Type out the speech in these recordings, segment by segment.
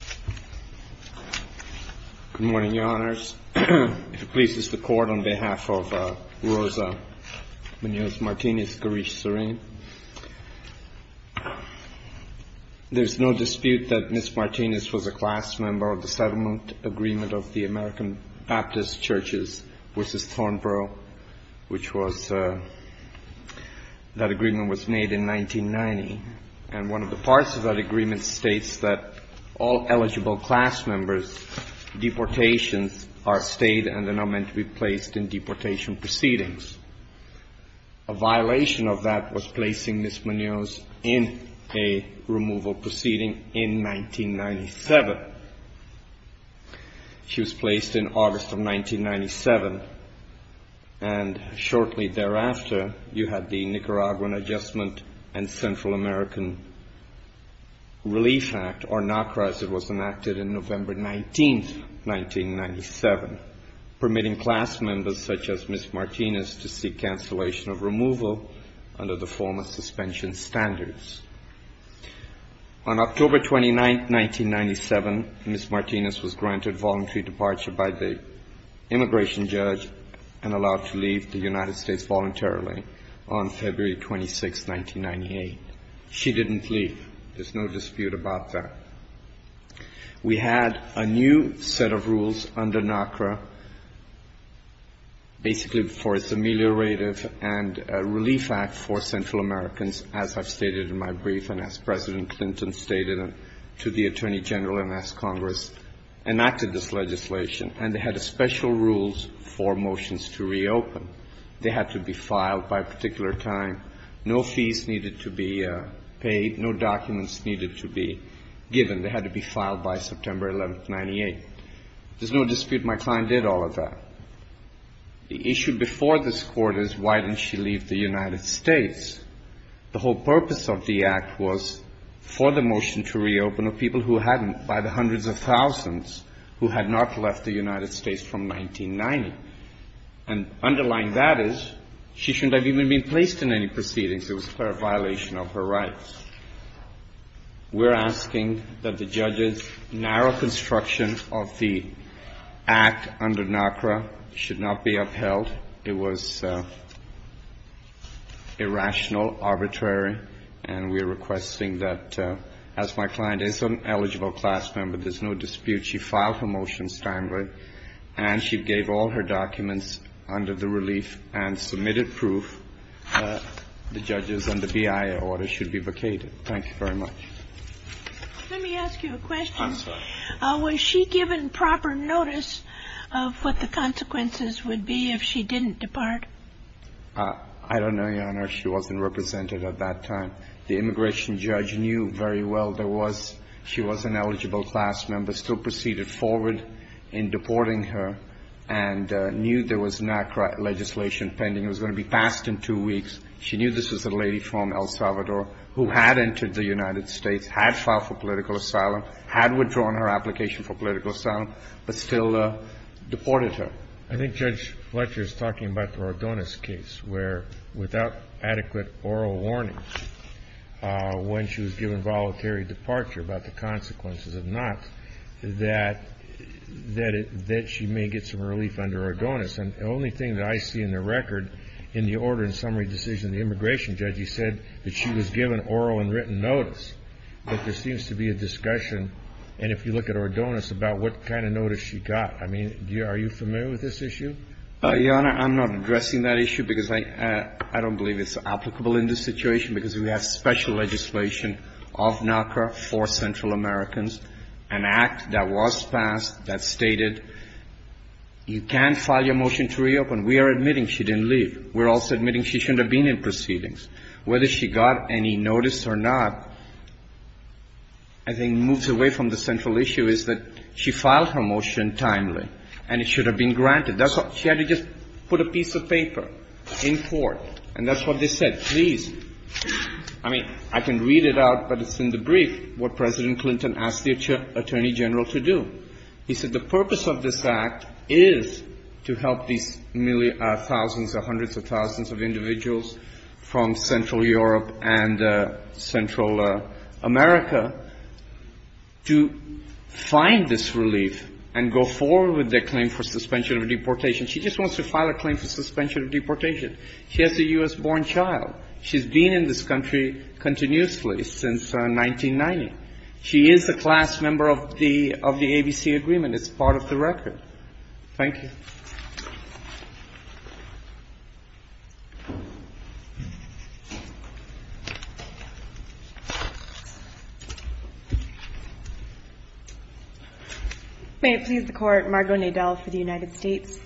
Good morning, Your Honors. If it pleases the Court, on behalf of Rosa Munoz-Martinez-Garish-Serain, there's no dispute that Ms. Martinez was a class member of the settlement agreement of the American Baptist Churches v. Thornborough, which was, that agreement was made in 1990. And one of the parts of that agreement states that all eligible class members' deportations are stayed and are not meant to be placed in deportation proceedings. A violation of that was placing Ms. Munoz in a removal proceeding in 1997. She was placed in August of 1997, and shortly thereafter, you had the Nicaraguan Adjustment and Central American Relief Act, or NACRA, as it was enacted in November 19, 1997, permitting class members such as Ms. Martinez to seek cancellation of removal under the former suspension standards. On October 29, 1997, Ms. Martinez was granted voluntary departure by the immigration judge and allowed to leave the United States voluntarily on February 26, 1998. She didn't leave. There's no dispute about that. We had a new set of rules under NACRA, basically for its Ameliorative and Relief Act for Central Americans, as I've stated in my brief and as President Clinton stated to the Attorney General and as Congress enacted this legislation. And they had special rules for motions to reopen. They had to be filed by a particular time. No fees needed to be paid. No documents needed to be given. They had to be filed by September 11, 1998. There's no dispute. My client did all of that. The issue before this Court is why didn't she leave the United States? The whole purpose of the Act was for the motion to reopen of people who hadn't, by the hundreds of thousands, who had not left the United States from 1990. And underlying that is she shouldn't have even been placed in any proceedings. It was a clear violation of her rights. We're asking that the judges' narrow construction of the Act under NACRA should not be upheld. It was irrational, arbitrary. And we're requesting that, as my client is an eligible class member, there's no dispute. She filed her motion standard, and she gave all her documents under the relief and submitted proof that the judges and the BIA order should be vacated. Thank you very much. Let me ask you a question. I'm sorry. Was she given proper notice of what the consequences would be if she didn't depart? I don't know, Your Honor. She wasn't represented at that time. The immigration judge knew very well there was – she was an eligible class member, still proceeded forward in deporting her and knew there was NACRA legislation pending. It was going to be passed in two weeks. She knew this was a lady from El Salvador who had entered the United States, had filed for political asylum, had withdrawn her application for political asylum, but still deported her. I think Judge Fletcher is talking about the Rodonez case, where, without adequate oral warning, when she was given voluntary departure, about the consequences of not, that she may get some relief under Rodonez. And the only thing that I see in the record in the order and summary decision, the immigration judge, he said that she was given oral and written notice. But there seems to be a discussion, and if you look at Rodonez, about what kind of notice she got. I mean, are you familiar with this issue? Your Honor, I'm not addressing that issue because I don't believe it's applicable in this situation because we have special legislation of NACRA for Central Americans, an act that was passed that stated you can't file your motion to reopen. We are admitting she didn't leave. We are also admitting she shouldn't have been in proceedings. Whether she got any notice or not, I think moves away from the central issue is that she filed her motion timely, and it should have been granted. That's all. She had to just put a piece of paper in court, and that's what they said, please. I mean, I can read it out, but it's in the brief, what President Clinton asked the Attorney General to do. He said the purpose of this act is to help these thousands or hundreds of thousands of individuals from Central Europe and Central America to find this relief and go forward with their claim for suspension of deportation. She just wants to file a claim for suspension of deportation. She has a U.S.-born child. She's been in this country continuously since 1990. She is a class member of the ABC agreement. It's part of the record. Thank you. May it please the Court, Margo Nadel for the United States.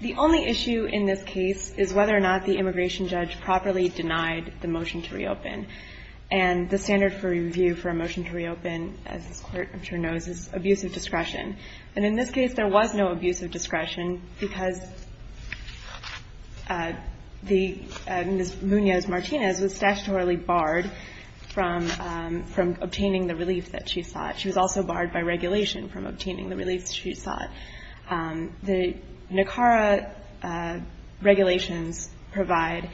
The only issue in this case is whether or not the immigration judge properly denied the motion to reopen. And the standard for review for a motion to reopen, as this Court I'm sure knows, is abusive discretion. And in this case, there was no abusive discretion because the Ms. Munoz-Martinez was statutorily barred from obtaining the relief that she sought. She was also barred by regulation from obtaining the relief that she sought. The NACARA regulations provide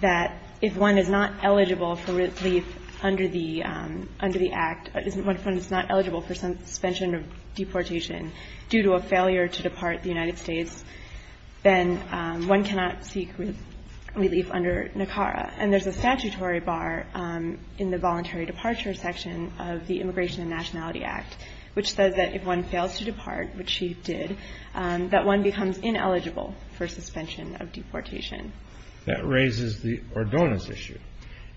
that if one is not eligible for relief under the act, if one is not eligible for suspension of deportation due to a failure to depart the United States, then one cannot seek relief under NACARA. And there's a statutory bar in the voluntary departure section of the Immigration and Nationality Act, which says that if one fails to depart, which she did, that one becomes ineligible for suspension of deportation. That raises the Ordonez issue.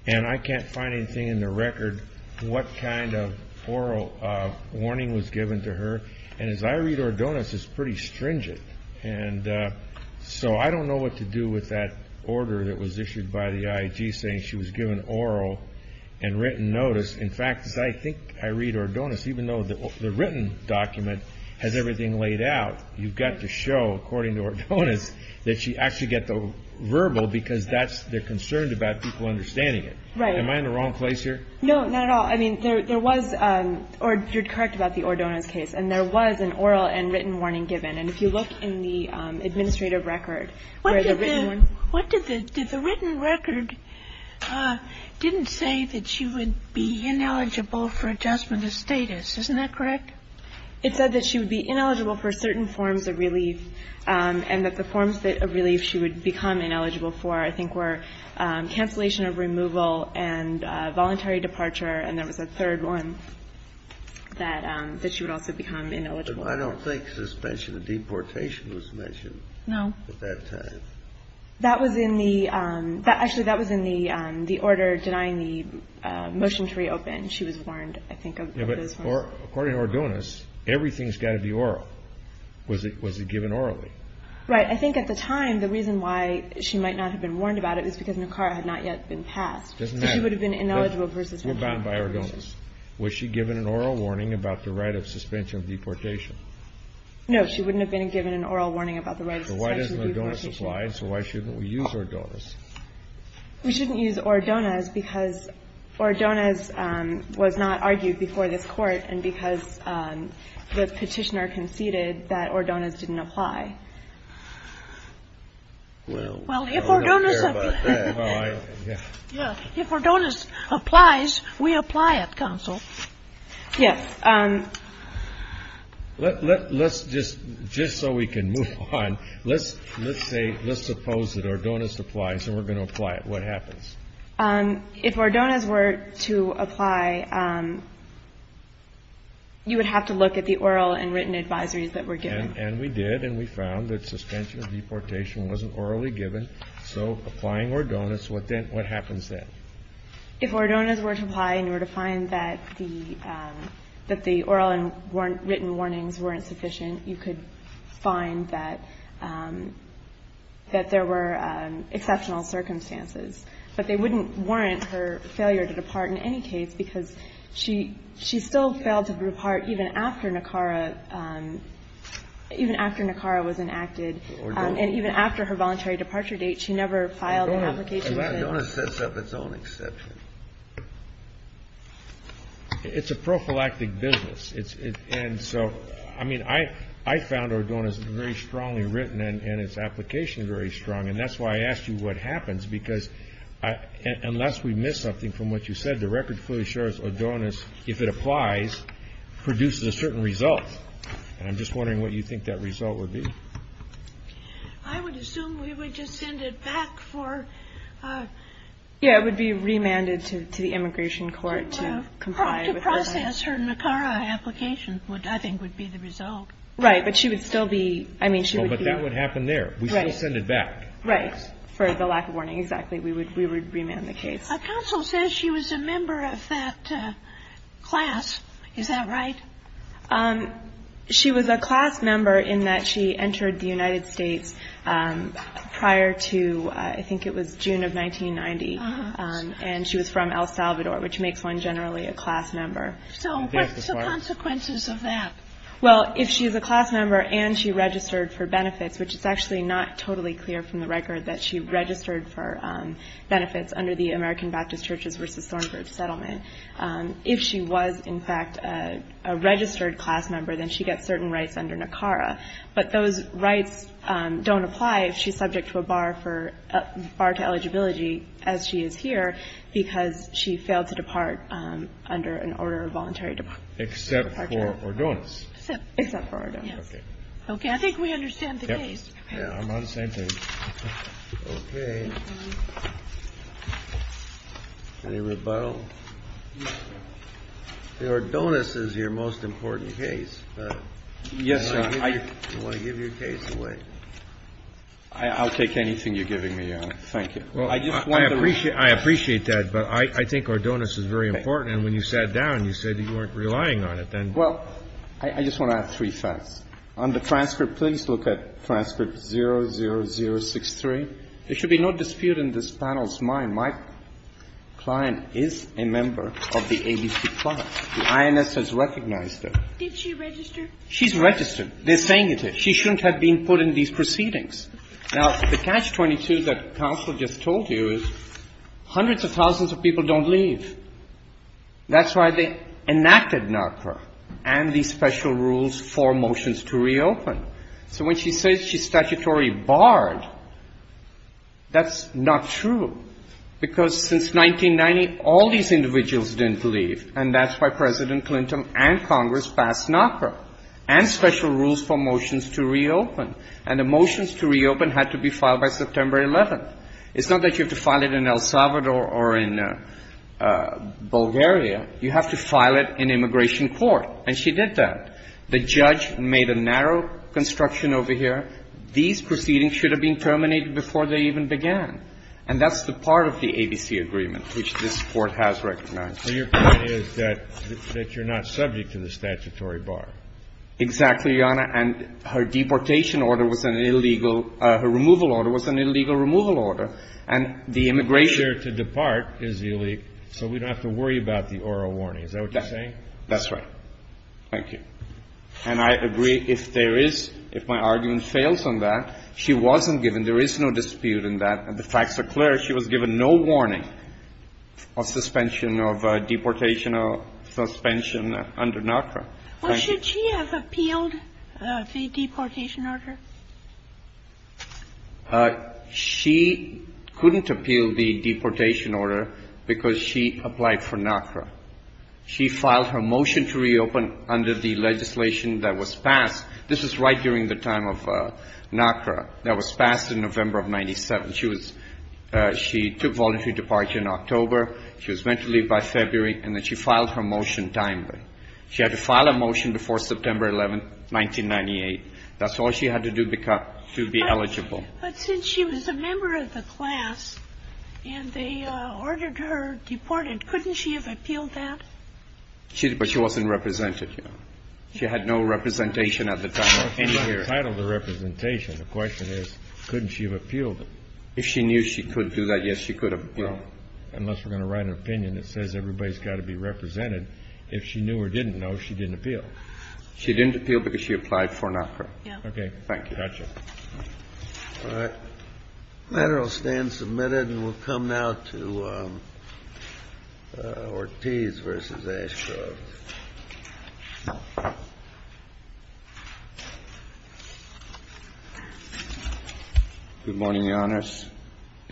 And I can't find anything in the record what kind of oral warning was given to her. And as I read Ordonez, it's pretty stringent. And so I don't know what to do with that order that was issued by the IAG saying she was given oral and written notice. In fact, as I think I read Ordonez, even though the written document has everything laid out, you've got to show, according to Ordonez, that she actually got the verbal because that's, they're concerned about people understanding it. Right. Am I in the wrong place here? No, not at all. I mean, there was, or you're correct about the Ordonez case. And there was an oral and written warning given. And if you look in the administrative record where the written warning was given. What did the, did the written record didn't say that she would be ineligible for adjustment of status. Isn't that correct? It said that she would be ineligible for certain forms of relief and that the forms of relief she would become ineligible for, I think, were cancellation of removal and voluntary departure. And there was a third one that, that she would also become ineligible for. But I don't think suspension of deportation was mentioned. No. At that time. That was in the, that actually, that was in the, the order denying the motion to reopen. She was warned, I think, of those forms. Yeah, but according to Ordonez, everything's got to be oral. Was it, was it given orally? Right. I think at the time, the reason why she might not have been warned about it was because Nicara had not yet been passed. Doesn't matter. She would have been ineligible versus Nicara. We're bound by Ordonez. Was she given an oral warning about the right of suspension of deportation? No, she wouldn't have been given an oral warning about the right of suspension of deportation. So why doesn't Ordonez apply? So why shouldn't we use Ordonez? We shouldn't use Ordonez because Ordonez was not argued before this court. And because the petitioner conceded that Ordonez didn't apply. Well, I don't care about that. Well, I, yeah. Yeah. If Ordonez applies, we apply at council. Yes. Let's just, just so we can move on. Let's, let's say, let's suppose that Ordonez applies and we're going to apply it. What happens? If Ordonez were to apply, you would have to look at the oral and written advisories that were given. And we did. And we found that suspension of deportation wasn't orally given. So applying Ordonez, what then, what happens then? If Ordonez were to apply and you were to find that the, that the oral and written warnings weren't sufficient, you could find that, that there were exceptional circumstances. But they wouldn't warrant her failure to depart in any case because she, she still failed to depart even after Nakara, even after Nakara was enacted. And even after her voluntary departure date, she never filed an application. Ordonez sets up its own exception. It's a prophylactic business. It's, it's, and so, I mean, I, I found Ordonez very strongly written and its application very strong. And that's why I asked you what happens because I, unless we miss something from what you said, the record fully assures Ordonez, if it applies, produces a certain result. And I'm just wondering what you think that result would be. I would assume we would just send it back for. Yeah, it would be remanded to, to the immigration court to comply. To process her Nakara application would, I think would be the result. Right. But she would still be, I mean, she would be. But that would happen there. We still send it back. Right. For the lack of warning. Exactly. We would, we would remand the case. A counsel says she was a member of that class. Is that right? Um, she was a class member in that she entered the United States, um, prior to, uh, I think it was June of 1990. Um, and she was from El Salvador, which makes one generally a class member. So what's the consequences of that? Well, if she's a class member and she registered for benefits, which is actually not totally clear from the record that she registered for, um, benefits under the American Baptist churches versus Thornburg settlement. Um, if she was in fact, uh, a registered class member, then she gets certain rights under Nakara, but those rights, um, don't apply if she's subject to a bar for, uh, bar to eligibility as she is here because she failed to depart, um, under an order of voluntary departure. Except for Ordonez. Except for Ordonez. Okay. I think we understand the case. Yeah. I'm on the same page. Okay. Any rebuttal? The Ordonez is your most important case, but I want to give your case away. I'll take anything you're giving me, Your Honor. Thank you. Well, I appreciate that, but I think Ordonez is very important. And when you sat down, you said you weren't relying on it then. Well, I just want to add three facts. On the transcript, please look at transcript 00063. There should be no dispute in this panel's mind. My client is a member of the ABC Club. The INS has recognized her. Did she register? She's registered. They're saying it is. She shouldn't have been put in these proceedings. Now, the catch 22 that counsel just told you is hundreds of thousands of people don't leave. That's why they enacted Nakara and these special rules for motions to reopen. So when she says she's statutory barred, that's not true. Because since 1990, all these individuals didn't leave, and that's why President Clinton and Congress passed Nakara and special rules for motions to reopen. And the motions to reopen had to be filed by September 11th. It's not that you have to file it in El Salvador or in Bulgaria. You have to file it in immigration court. And she did that. The judge made a narrow construction over here. These proceedings should have been terminated before they even began. And that's the part of the ABC agreement which this Court has recognized. And your point is that you're not subject to the statutory bar. Exactly, Your Honor. And her deportation order was an illegal – her removal order was an illegal removal order. And the immigration – She's here to depart is illegal, so we don't have to worry about the oral warning. Is that what you're saying? That's right. Thank you. And I agree if there is – if my argument fails on that, she wasn't given. There is no dispute in that. The facts are clear. She was given no warning of suspension of – deportation of suspension under NACRA. Well, should she have appealed the deportation order? She couldn't appeal the deportation order because she applied for NACRA. She filed her motion to reopen under the legislation that was passed. This is right during the time of NACRA that was passed in November of 97. She was – she took voluntary departure in October. She was meant to leave by February. And then she filed her motion timely. She had to file a motion before September 11, 1998. That's all she had to do to be eligible. But since she was a member of the class and they ordered her deported, couldn't she have appealed that? She – but she wasn't represented, Your Honor. She had no representation at the time of any hearing. What's the title of the representation? The question is couldn't she have appealed it? If she knew she could do that, yes, she could have appealed it. Well, unless we're going to write an opinion that says everybody's got to be represented. If she knew or didn't know, she didn't appeal. She didn't appeal because she applied for NACRA. Yeah. Okay. Thank you. Got you. All right. The matter will stand submitted and we'll come now to Ortiz v. Ashgrove. Good morning, Your Honors.